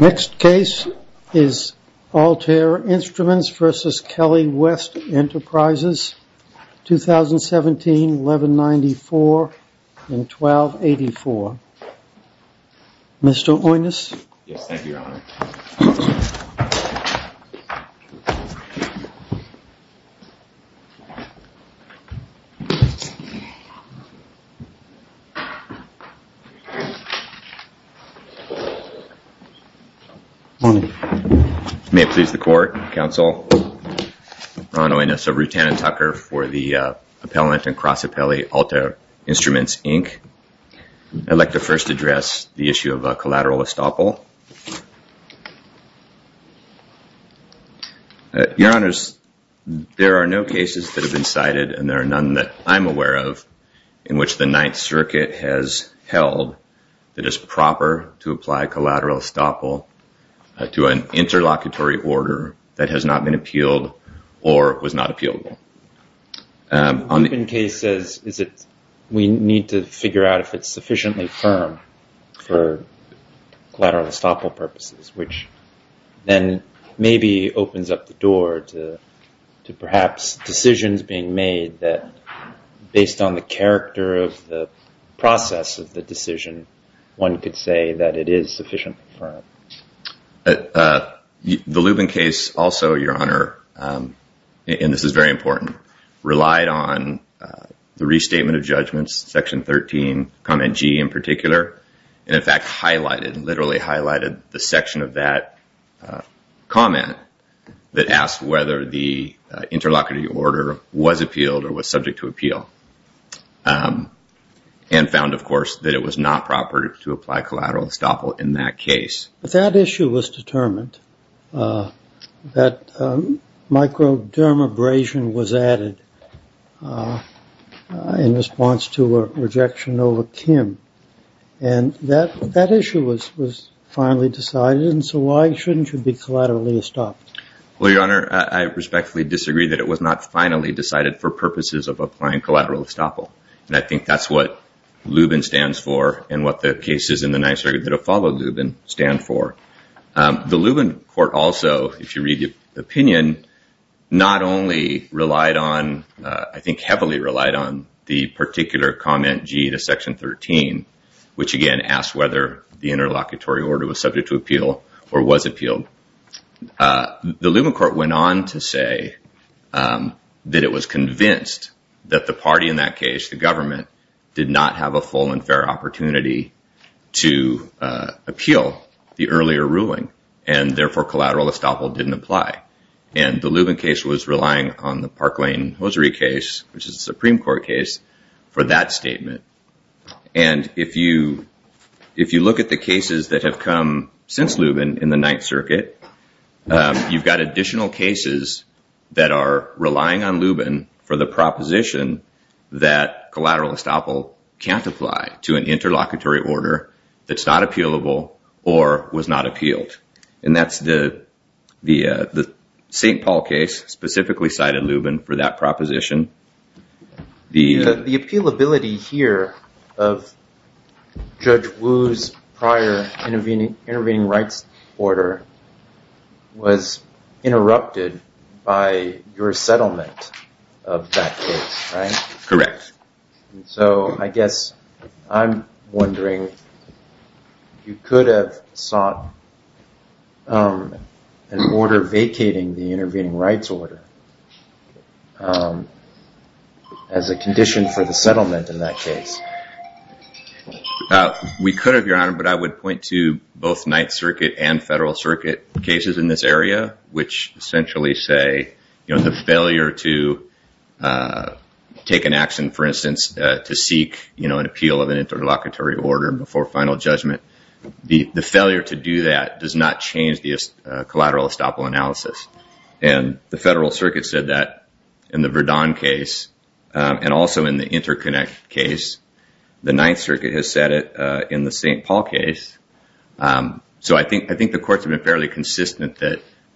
Next case is Altair Instruments v. Kelley West Enterprises, 2017-1194 in 1284. Mr. Oynous? Yes, thank you, Your Honor. Morning. May it please the Court, Counsel. Ron Oynous of Rutan and Tucker for the Appellant and Cross Appellate, Altair Instruments, Inc. I'd like to first address the issue of collateral estoppel. Your Honors, there are no cases that have been cited, and there are none that I'm aware of, in which the Ninth Circuit has held that it is proper to apply collateral estoppel to an interlocutory order that has not been appealed or was not appealable. The Lubin case says we need to figure out if it's sufficiently firm for collateral estoppel purposes, which then maybe opens up the door to perhaps decisions being made that, based on the character of the process of the decision, one could say that it is sufficiently firm. The Lubin case also, Your Honor, and this is very important, relied on the restatement of judgments, section 13, comment G in particular, and in fact highlighted, literally highlighted, the section of that comment that asked whether the interlocutory order was appealed or was subject to appeal, and found, of course, that it was not proper to apply collateral estoppel in that case. But that issue was determined, that microdermabrasion was added in response to a rejection over Kim, and that issue was finally decided, and so why shouldn't it be collateral estoppel? Well, Your Honor, I respectfully disagree that it was not finally decided for purposes of applying collateral estoppel, and I think that's what Lubin stands for and what the cases in the NYSERDA that have followed Lubin stand for. The Lubin court also, if you read the opinion, not only relied on, I think heavily relied on, the particular comment G to section 13, which again asked whether the interlocutory order was subject to appeal or was appealed, the Lubin court went on to say that it was convinced that the party in that case, the government, did not have a full and fair opportunity to appeal the earlier ruling, and therefore collateral estoppel didn't apply. And the Lubin case was relying on the Park Lane hosiery case, which is a Supreme Court case, for that statement. And if you look at the cases that have come since Lubin in the Ninth Circuit, you've got additional cases that are relying on Lubin for the proposition that collateral estoppel can't apply to an interlocutory order that's not appealable or was not appealed, and that's the St. Paul case specifically cited Lubin for that proposition. The appealability here of Judge Wu's prior intervening rights order was interrupted by your settlement of that case, right? Correct. So I guess I'm wondering, you could have sought an order vacating the intervening rights order as a condition for the settlement in that case. We could have, Your Honor, but I would point to both Ninth Circuit and Federal Circuit cases in this area, which essentially say the failure to take an action, for instance, to seek an appeal of an interlocutory order before final judgment, the failure to do that does not change the collateral estoppel analysis. And the Federal Circuit said that in the Verdun case and also in the Interconnect case. The Ninth Circuit has said it in the St. Paul case. So I think the courts have been fairly consistent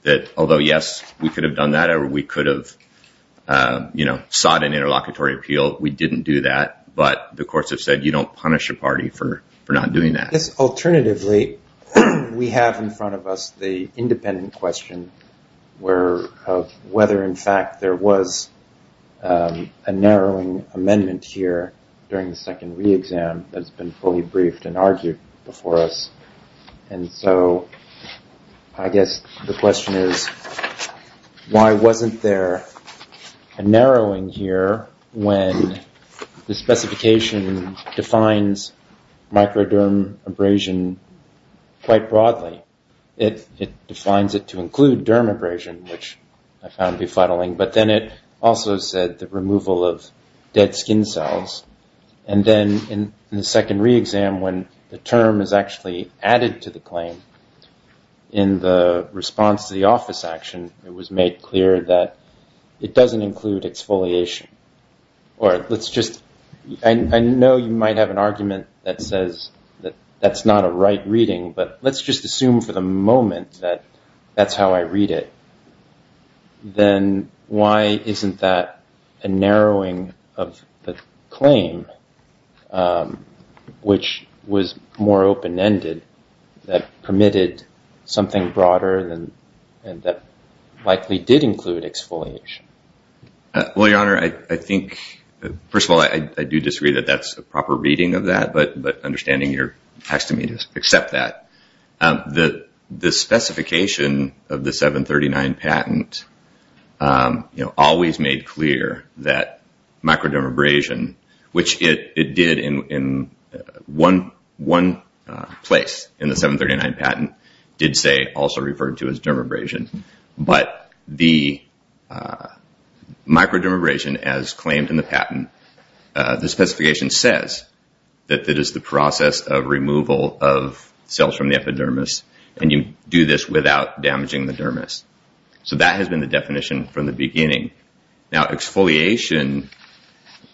that although, yes, we could have done that or we could have sought an interlocutory appeal, we didn't do that, but the courts have said you don't punish a party for not doing that. Yes, alternatively, we have in front of us the independent question of whether, in fact, there was a narrowing amendment here during the second re-exam that's been fully briefed and argued before us. And so I guess the question is, why wasn't there a narrowing here when the specification defines microderm abrasion quite broadly? It defines it to include derm abrasion, which I found befuddling, but then it also said the removal of dead skin cells. And then in the second re-exam when the term is actually added to the claim in the response to the office action, it was made clear that it doesn't include exfoliation. I know you might have an argument that says that that's not a right reading, but let's just assume for the moment that that's how I read it. Then why isn't that a narrowing of the claim, which was more open-ended, that permitted something broader and that likely did include exfoliation? Well, Your Honor, I think, first of all, I do disagree that that's a proper reading of that, but understanding your taxidermy to accept that. The specification of the 739 patent always made clear that microderm abrasion, which it did in one place in the 739 patent, did say also referred to as derm abrasion. But the microderm abrasion, as claimed in the patent, the specification says that it is the process of removal of cells from the epidermis, and you do this without damaging the dermis. So that has been the definition from the beginning. Now, exfoliation,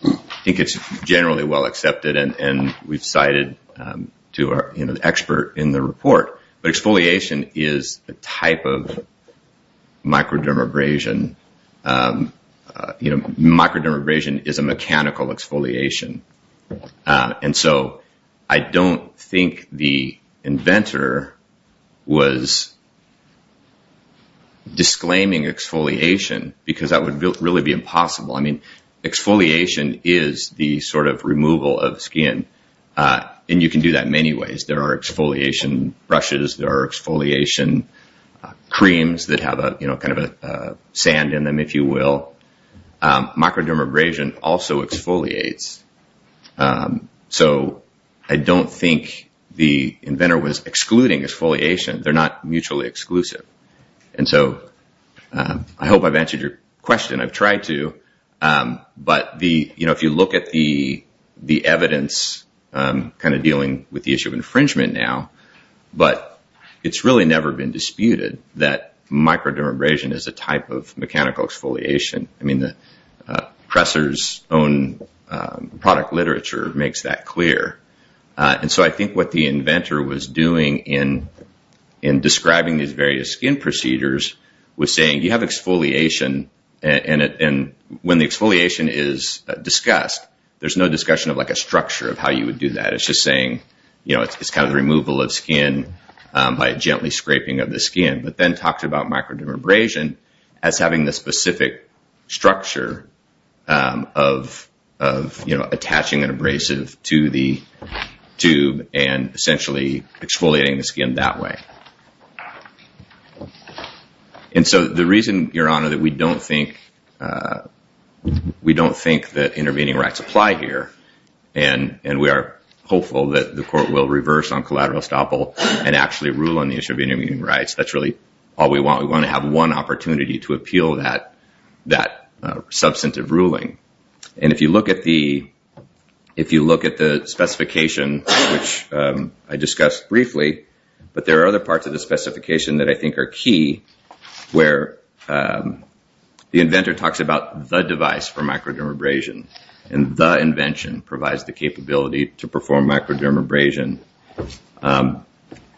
I think it's generally well accepted, and we've cited to our expert in the report, but exfoliation is a type of microderm abrasion. Microderm abrasion is a mechanical exfoliation, and so I don't think the inventor was disclaiming exfoliation because that would really be impossible. I mean, exfoliation is the sort of removal of skin, and you can do that many ways. There are exfoliation brushes. There are exfoliation creams that have kind of a sand in them, if you will. Microderm abrasion also exfoliates. So I don't think the inventor was excluding exfoliation. They're not mutually exclusive. And so I hope I've answered your question. I've tried to. But if you look at the evidence kind of dealing with the issue of infringement now, but it's really never been disputed that microderm abrasion is a type of mechanical exfoliation. I mean, the presser's own product literature makes that clear. And so I think what the inventor was doing in describing these various skin procedures was saying, you have exfoliation, and when the exfoliation is discussed, there's no discussion of, like, a structure of how you would do that. It's just saying, you know, it's kind of the removal of skin by gently scraping of the skin. But then talked about microderm abrasion as having the specific structure of, you know, attaching an abrasive to the tube and essentially exfoliating the skin that way. And so the reason, Your Honor, that we don't think that intervening rights apply here, and we are hopeful that the court will reverse on collateral estoppel and actually rule on the issue of intervening rights, that's really all we want. We want to have one opportunity to appeal that substantive ruling. And if you look at the specification, which I discussed briefly, but there are other parts of the specification that I think are key, where the inventor talks about the device for microderm abrasion, and the invention provides the capability to perform microderm abrasion.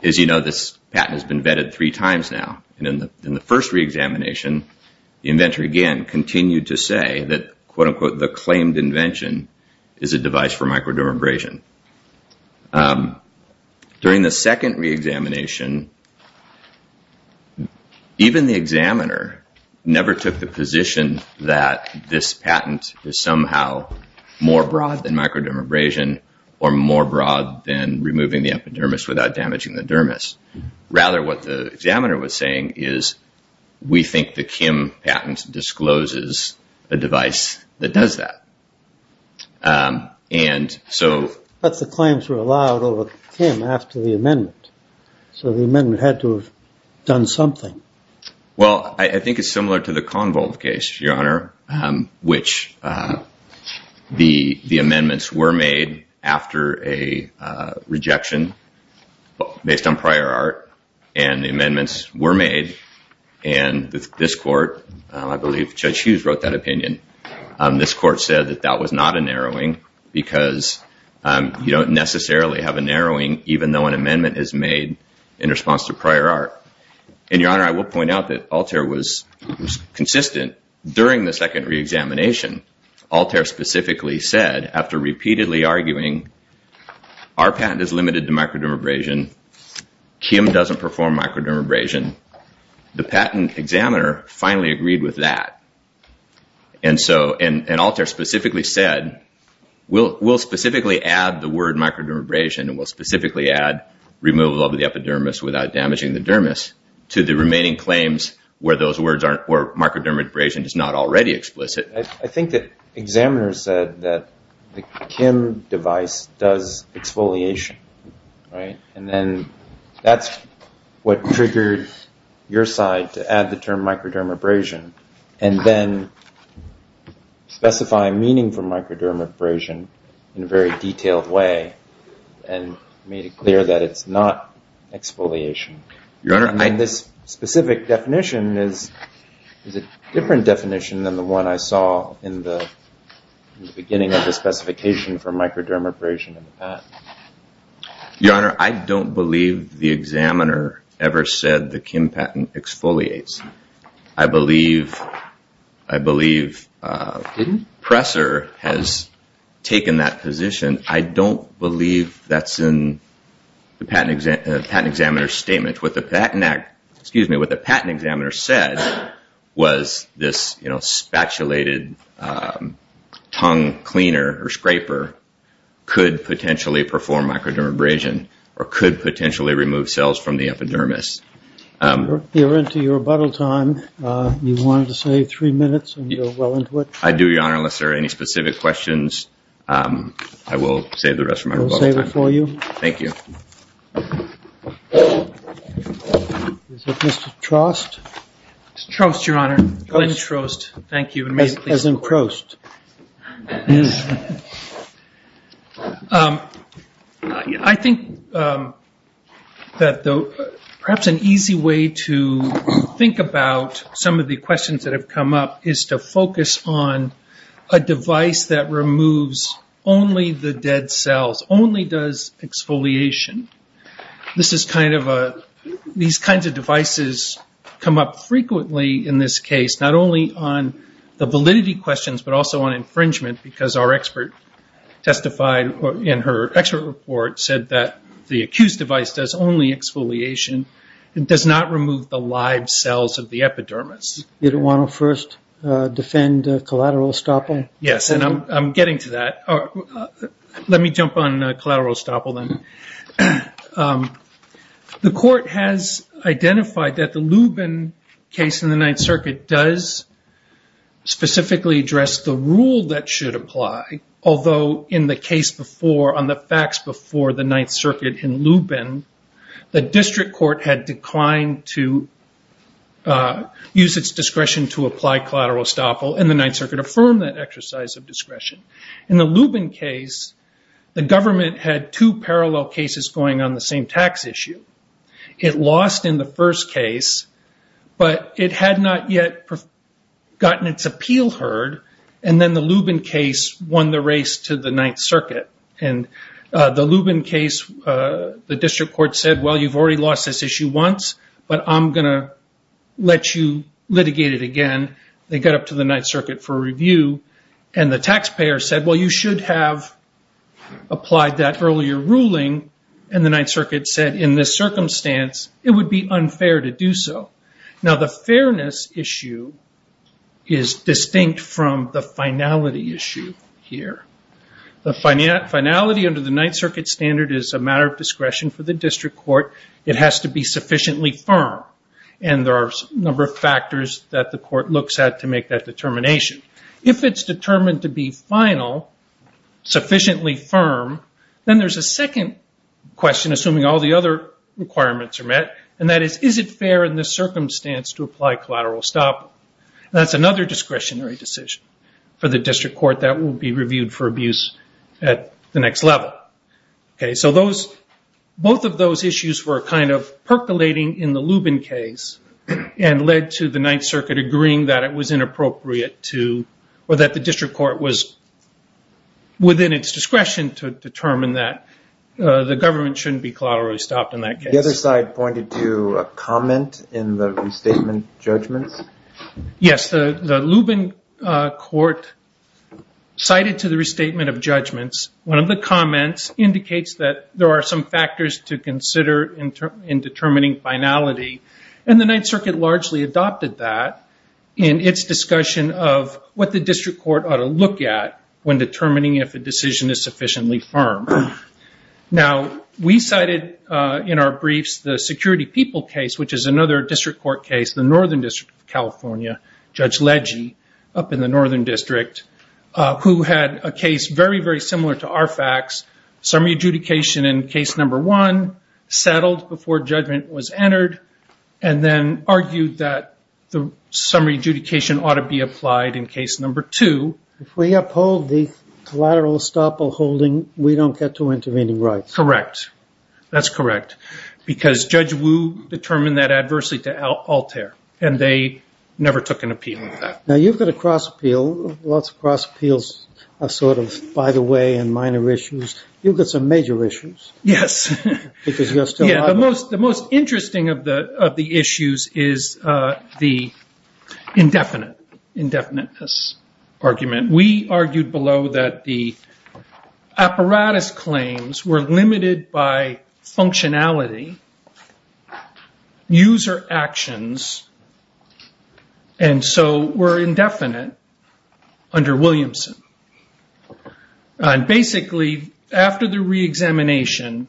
As you know, this patent has been vetted three times now. And in the first reexamination, the inventor again continued to say that, quote, unquote, the claimed invention is a device for microderm abrasion. During the second reexamination, even the examiner never took the position that this patent is somehow more broad than microderm abrasion or more broad than removing the epidermis without damaging the dermis. Rather, what the examiner was saying is we think the Kim patent discloses a device that does that. But the claims were allowed over Kim after the amendment, so the amendment had to have done something. Well, I think it's similar to the Convolve case, Your Honor, which the amendments were made after a rejection based on prior art, and the amendments were made. And this court, I believe Judge Hughes wrote that opinion, this court said that that was not a narrowing because you don't necessarily have a narrowing even though an amendment is made in response to prior art. And, Your Honor, I will point out that Alter was consistent. During the second reexamination, Alter specifically said, after repeatedly arguing, our patent is limited to microderm abrasion, Kim doesn't perform microderm abrasion, the patent examiner finally agreed with that. And Alter specifically said, we'll specifically add the word microderm abrasion and we'll specifically add removal of the epidermis without damaging the dermis to the remaining claims where microderm abrasion is not already explicit. I think the examiner said that the Kim device does exfoliation, right? And then that's what triggered your side to add the term microderm abrasion and then specify meaning for microderm abrasion in a very detailed way. And made it clear that it's not exfoliation. And this specific definition is a different definition than the one I saw in the beginning of the specification for microderm abrasion in the patent. Your Honor, I don't believe the examiner ever said the Kim patent exfoliates. I believe Presser has taken that position. I don't believe that's in the patent examiner's statement. What the patent examiner said was this, you know, spatulated tongue cleaner or scraper could potentially perform microderm abrasion or could potentially remove cells from the epidermis. We're into your rebuttal time. You wanted to save three minutes and you're well into it. I do, Your Honor, unless there are any specific questions. I will save the rest of my rebuttal time. We'll save it for you. Thank you. Is it Mr. Trost? Trost, Your Honor. Glenn Trost. Thank you. As in prost. I think that perhaps an easy way to think about some of the questions that have come up is to focus on a device that removes only the dead cells, only does exfoliation. This is kind of a these kinds of devices come up frequently in this case, not only on the validity questions but also on infringement because our expert testified in her expert report said that the accused device does only exfoliation. It does not remove the live cells of the epidermis. You don't want to first defend collateral estoppel? Yes, and I'm getting to that. Let me jump on collateral estoppel then. The court has identified that the Lubin case in the Ninth Circuit does specifically address the rule that should apply, although in the case before on the facts before the Ninth Circuit in Lubin, the district court had declined to use its discretion to apply collateral estoppel and the Ninth Circuit affirmed that exercise of discretion. In the Lubin case, the government had two parallel cases going on the same tax issue. It lost in the first case, but it had not yet gotten its appeal heard, and then the Lubin case won the race to the Ninth Circuit. The Lubin case, the district court said, well, you've already lost this issue once, but I'm going to let you litigate it again. They got up to the Ninth Circuit for review, and the taxpayer said, well, you should have applied that earlier ruling, and the Ninth Circuit said in this circumstance it would be unfair to do so. Now, the fairness issue is distinct from the finality issue here. The finality under the Ninth Circuit standard is a matter of discretion for the district court. It has to be sufficiently firm, and there are a number of factors that the court looks at to make that determination. If it's determined to be final, sufficiently firm, then there's a second question, assuming all the other requirements are met, and that is, is it fair in this circumstance to apply collateral estoppel? That's another discretionary decision for the district court that will be reviewed for abuse at the next level. Both of those issues were kind of percolating in the Lubin case and led to the Ninth Circuit agreeing that it was inappropriate to or that the district court was within its discretion to determine that the government shouldn't be collaterally stopped in that case. The other side pointed to a comment in the restatement judgments. Yes, the Lubin court cited to the restatement of judgments. One of the comments indicates that there are some factors to consider in determining finality, and the Ninth Circuit largely adopted that in its discussion of what the district court ought to look at when determining if a decision is sufficiently firm. Now, we cited in our briefs the Security People case, which is another district court case, the Northern District of California, Judge Legge, up in the Northern District, who had a case very, very similar to our facts, summary adjudication in case number one, settled before judgment was entered, and then argued that the summary adjudication ought to be applied in case number two. If we uphold the collateral estoppel holding, we don't get to intervening rights. Correct. That's correct. Because Judge Wu determined that adversely to Altair, and they never took an appeal on that. Now, you've got a cross appeal. Lots of cross appeals are sort of by the way and minor issues. You've got some major issues. Yes. Because you're still out there. The most interesting of the issues is the indefinite, indefiniteness argument. We argued below that the apparatus claims were limited by functionality, user actions, and so were indefinite under Williamson. Basically, after the reexamination,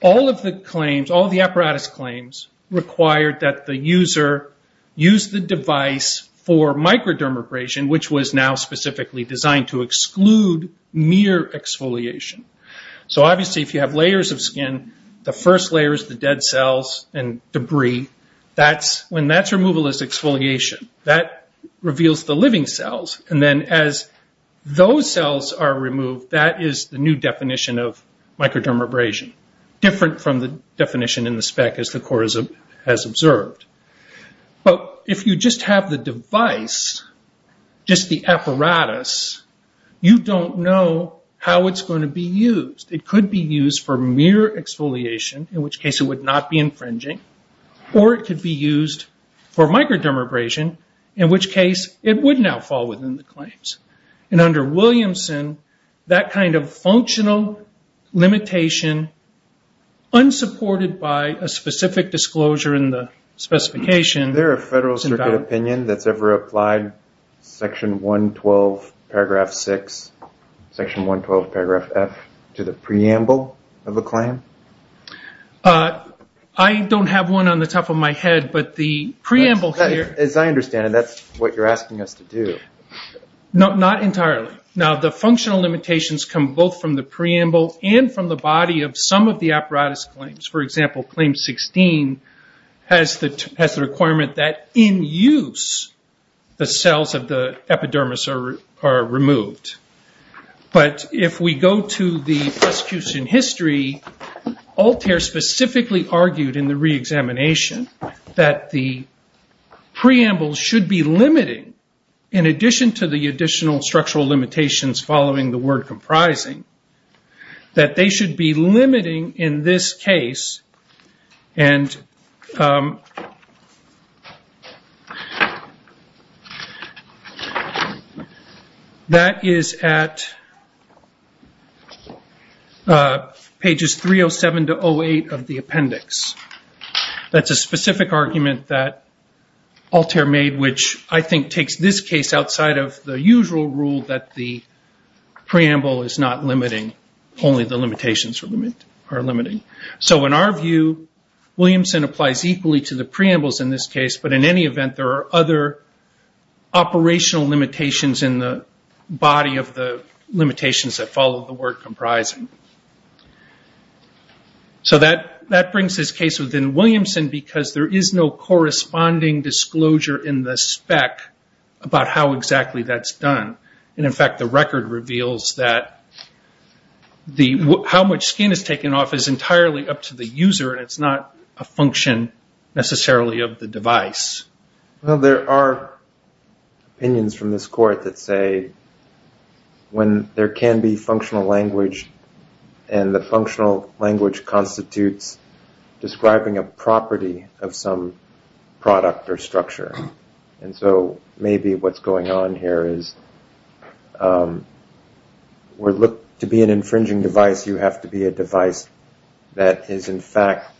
all of the claims, all the apparatus claims, required that the user use the device for microdermabrasion, which was now specifically designed to exclude mere exfoliation. Obviously, if you have layers of skin, the first layer is the dead cells and debris. When that's removal is exfoliation, that reveals the living cells. Then as those cells are removed, that is the new definition of microdermabrasion, different from the definition in the spec as the court has observed. If you just have the device, just the apparatus, you don't know how it's going to be used. It could be used for mere exfoliation, in which case it would not be infringing, or it could be used for microdermabrasion, in which case it would now fall within the claims. Under Williamson, that kind of functional limitation, unsupported by a specific disclosure in the specification, is invalid. Can you add Section 112, Paragraph 6, Section 112, Paragraph F, to the preamble of a claim? I don't have one on the top of my head, but the preamble here... As I understand it, that's what you're asking us to do. Not entirely. Now, the functional limitations come both from the preamble and from the body of some of the apparatus claims. For example, Claim 16 has the requirement that, in use, the cells of the epidermis are removed. But if we go to the prosecution history, Altair specifically argued in the reexamination that the preamble should be limiting, in addition to the additional structural limitations following the word comprising, that they should be limiting in this case, and that is at pages 307 to 08 of the appendix. That's a specific argument that Altair made, which I think takes this case outside of the usual rule that the preamble is not limiting, only the limitations are limiting. So in our view, Williamson applies equally to the preambles in this case, but in any event, there are other operational limitations in the body of the limitations that follow the word comprising. So that brings this case within Williamson, because there is no corresponding disclosure in the spec about how exactly that's done. In fact, the record reveals that how much skin is taken off is entirely up to the user, and it's not a function necessarily of the device. Well, there are opinions from this court that say when there can be functional language and the functional language constitutes describing a property of some product or structure, and so maybe what's going on here is to be an infringing device, you have to be a device that is in fact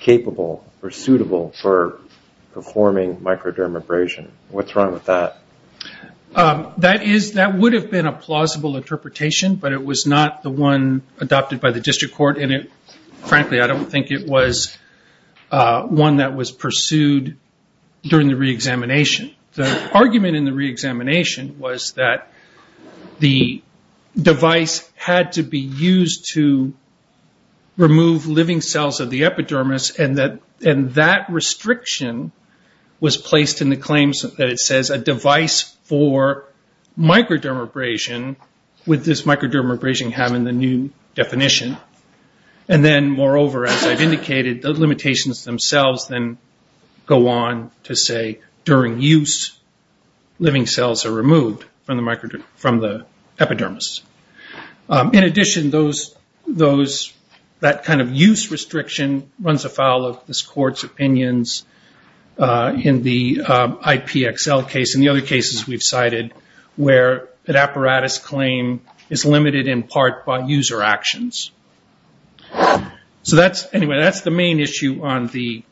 capable or suitable for performing microdermabrasion. What's wrong with that? That would have been a plausible interpretation, but it was not the one adopted by the district court, and frankly I don't think it was one that was pursued during the reexamination. The argument in the reexamination was that the device had to be used to remove living cells of the epidermis, and that restriction was placed in the claims that it says a device for microdermabrasion with this microdermabrasion having the new definition, and then moreover, as I've indicated, the limitations themselves then go on to say during use living cells are removed from the epidermis. In addition, that kind of use restriction runs afoul of this court's opinions in the IPXL case and the other cases we've cited where an apparatus claim is limited in part by user actions. Anyway, that's the main issue on the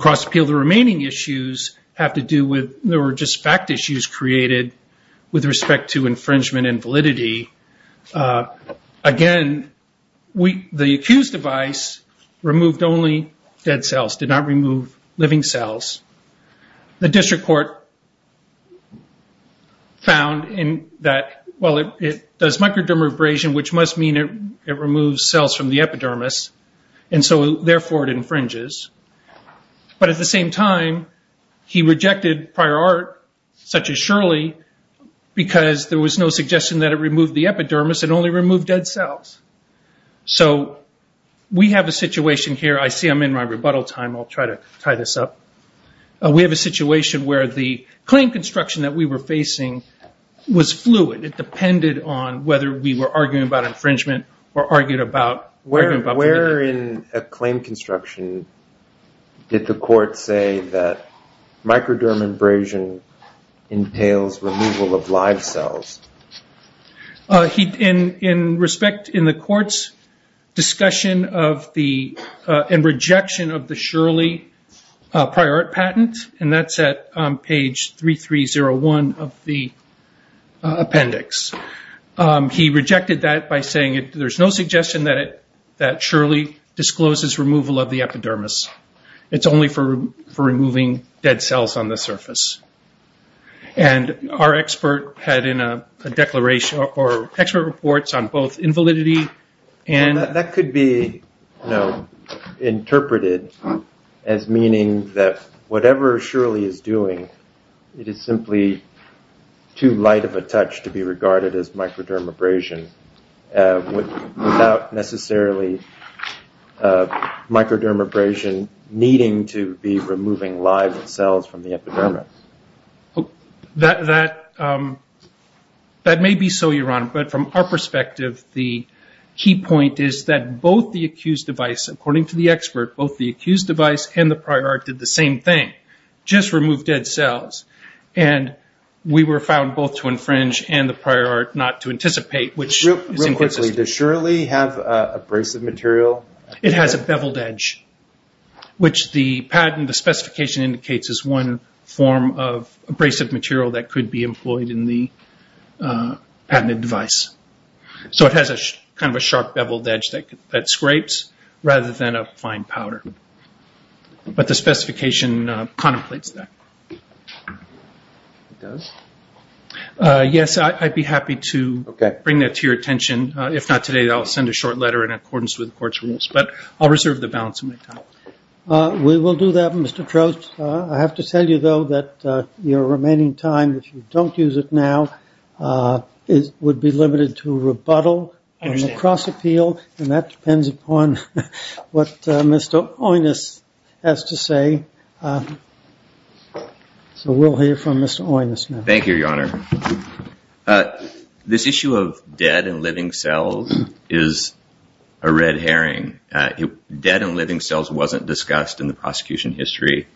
cross appeal. The remaining issues have to do with, they were just fact issues created with respect to infringement and validity. Again, the accused device removed only dead cells, did not remove living cells. The district court found that it does microdermabrasion, which must mean it removes cells from the epidermis, and so therefore it infringes, but at the same time he rejected prior art such as Shirley because there was no suggestion that it removed the epidermis, it only removed dead cells. So we have a situation here. I see I'm in my rebuttal time. I'll try to tie this up. We have a situation where the claim construction that we were facing was fluid. It depended on whether we were arguing about infringement or arguing about validity. Where in a claim construction did the court say that microdermabrasion entails removal of live cells? In respect in the court's discussion and rejection of the Shirley prior art patent, and that's at page 3301 of the appendix. He rejected that by saying there's no suggestion that Shirley discloses removal of the epidermis. It's only for removing dead cells on the surface. And our expert had in a declaration or expert reports on both invalidity and. That could be interpreted as meaning that whatever Shirley is doing, it is simply too light of a touch to be regarded as microdermabrasion without necessarily microdermabrasion needing to be removing live cells from the epidermis. That may be so, Your Honor. But from our perspective, the key point is that both the accused device, according to the expert, both the accused device and the prior art did the same thing, just remove dead cells. And we were found both to infringe and the prior art not to anticipate, which is inconsistent. Real quickly, does Shirley have abrasive material? It has a beveled edge, which the patent, the specification indicates, is one form of abrasive material that could be employed in the patented device. So it has kind of a sharp beveled edge that scrapes rather than a fine powder. But the specification contemplates that. It does? Yes, I'd be happy to bring that to your attention. If not today, I'll send a short letter in accordance with the court's rules. But I'll reserve the balance of my time. We will do that, Mr. Trost. I have to tell you, though, that your remaining time, if you don't use it now, would be limited to rebuttal. I understand. And that depends upon what Mr. Oynous has to say. So we'll hear from Mr. Oynous now. Thank you, Your Honor. This issue of dead and living cells is a red herring. Dead and living cells wasn't discussed in the prosecution history.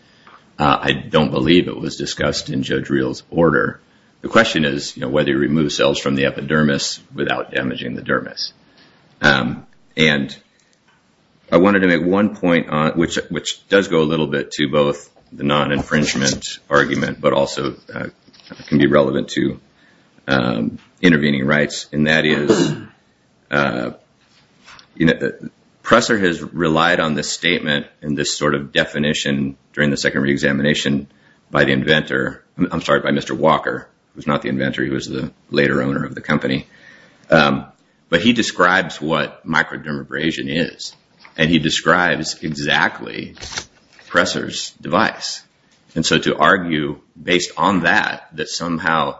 I don't believe it was discussed in Judge Reel's order. The question is whether you remove cells from the epidermis without damaging the dermis. And I wanted to make one point, which does go a little bit to both the non-infringement argument but also can be relevant to intervening rights, and that is Presser has relied on this statement and this sort of definition during the second reexamination by the inventor. I'm sorry, by Mr. Walker, who's not the inventor. He was the later owner of the company. But he describes what microdermabrasion is, and he describes exactly Presser's device. And so to argue based on that that somehow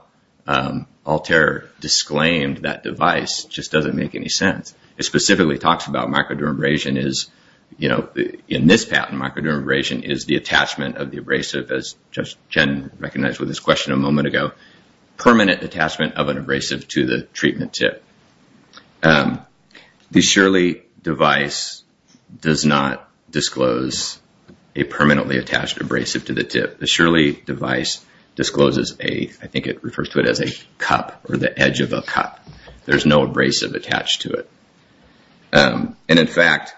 Altair disclaimed that device just doesn't make any sense. It specifically talks about microdermabrasion is, in this patent, microdermabrasion is the attachment of the abrasive, as Judge Jen recognized with this question a moment ago, permanent attachment of an abrasive to the treatment tip. The Shirley device does not disclose a permanently attached abrasive to the tip. The Shirley device discloses a, I think it refers to it as a cup or the edge of a cup. There's no abrasive attached to it. And in fact,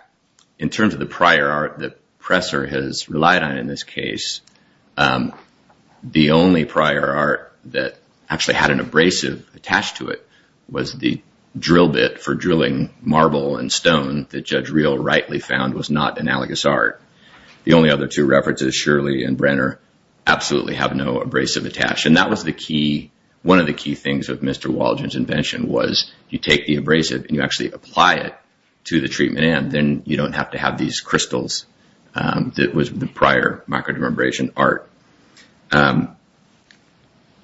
in terms of the prior art that Presser has relied on in this case, the only prior art that actually had an abrasive attached to it was the drill bit for drilling marble and stone that Judge Reel rightly found was not analogous art. The only other two references, Shirley and Brenner, absolutely have no abrasive attached. And that was the key, one of the key things of Mr. Waldron's invention was you take the abrasive and you actually apply it to the treatment end. Then you don't have to have these crystals that was the prior microdermabrasion art.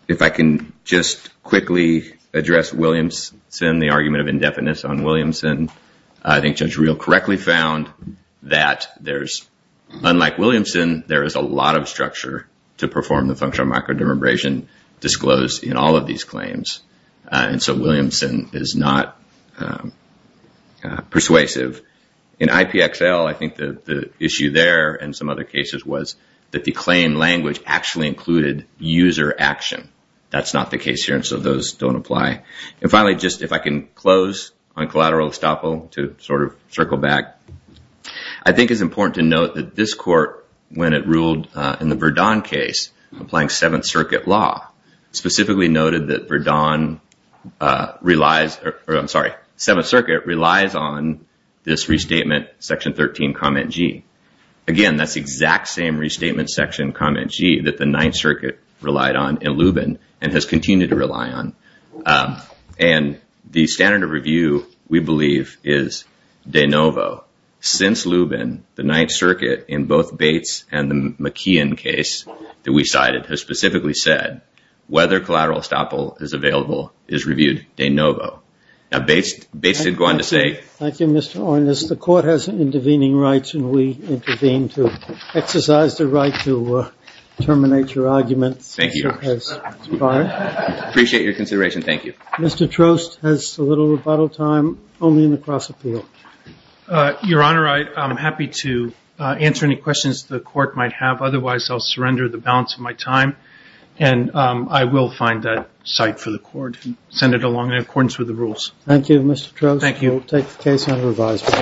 If I can just quickly address Williamson, the argument of indefinites on Williamson, I think Judge Reel correctly found that there's, unlike Williamson, there is a lot of structure to perform the function of microdermabrasion disclosed in all of these claims. And so Williamson is not persuasive. In IPXL, I think the issue there and some other cases was that the claim language actually included user action. That's not the case here, and so those don't apply. And finally, just if I can close on collateral estoppel to sort of circle back, I think it's important to note that this court, when it ruled in the Verdun case, applying Seventh Circuit law, specifically noted that Verdun relies, or I'm sorry, Seventh Circuit relies on this restatement, Section 13, Comment G. Again, that's the exact same restatement, Section Comment G, that the Ninth Circuit relied on in Lubin and has continued to rely on. And the standard of review, we believe, is de novo. Since Lubin, the Ninth Circuit, in both Bates and the McKeon case that we cited, has specifically said, whether collateral estoppel is available is reviewed de novo. Now, Bates did go on to say- Thank you, Mr. Ornish. The court has intervening rights, and we intervene to exercise the right to terminate your argument. Thank you, Your Honor. I appreciate your consideration. Thank you. Mr. Trost has a little rebuttal time, only in the cross appeal. Your Honor, I'm happy to answer any questions the court might have. Otherwise, I'll surrender the balance of my time, and I will find a site for the court and send it along in accordance with the rules. Thank you, Mr. Trost. Thank you. We'll take the case under revisal.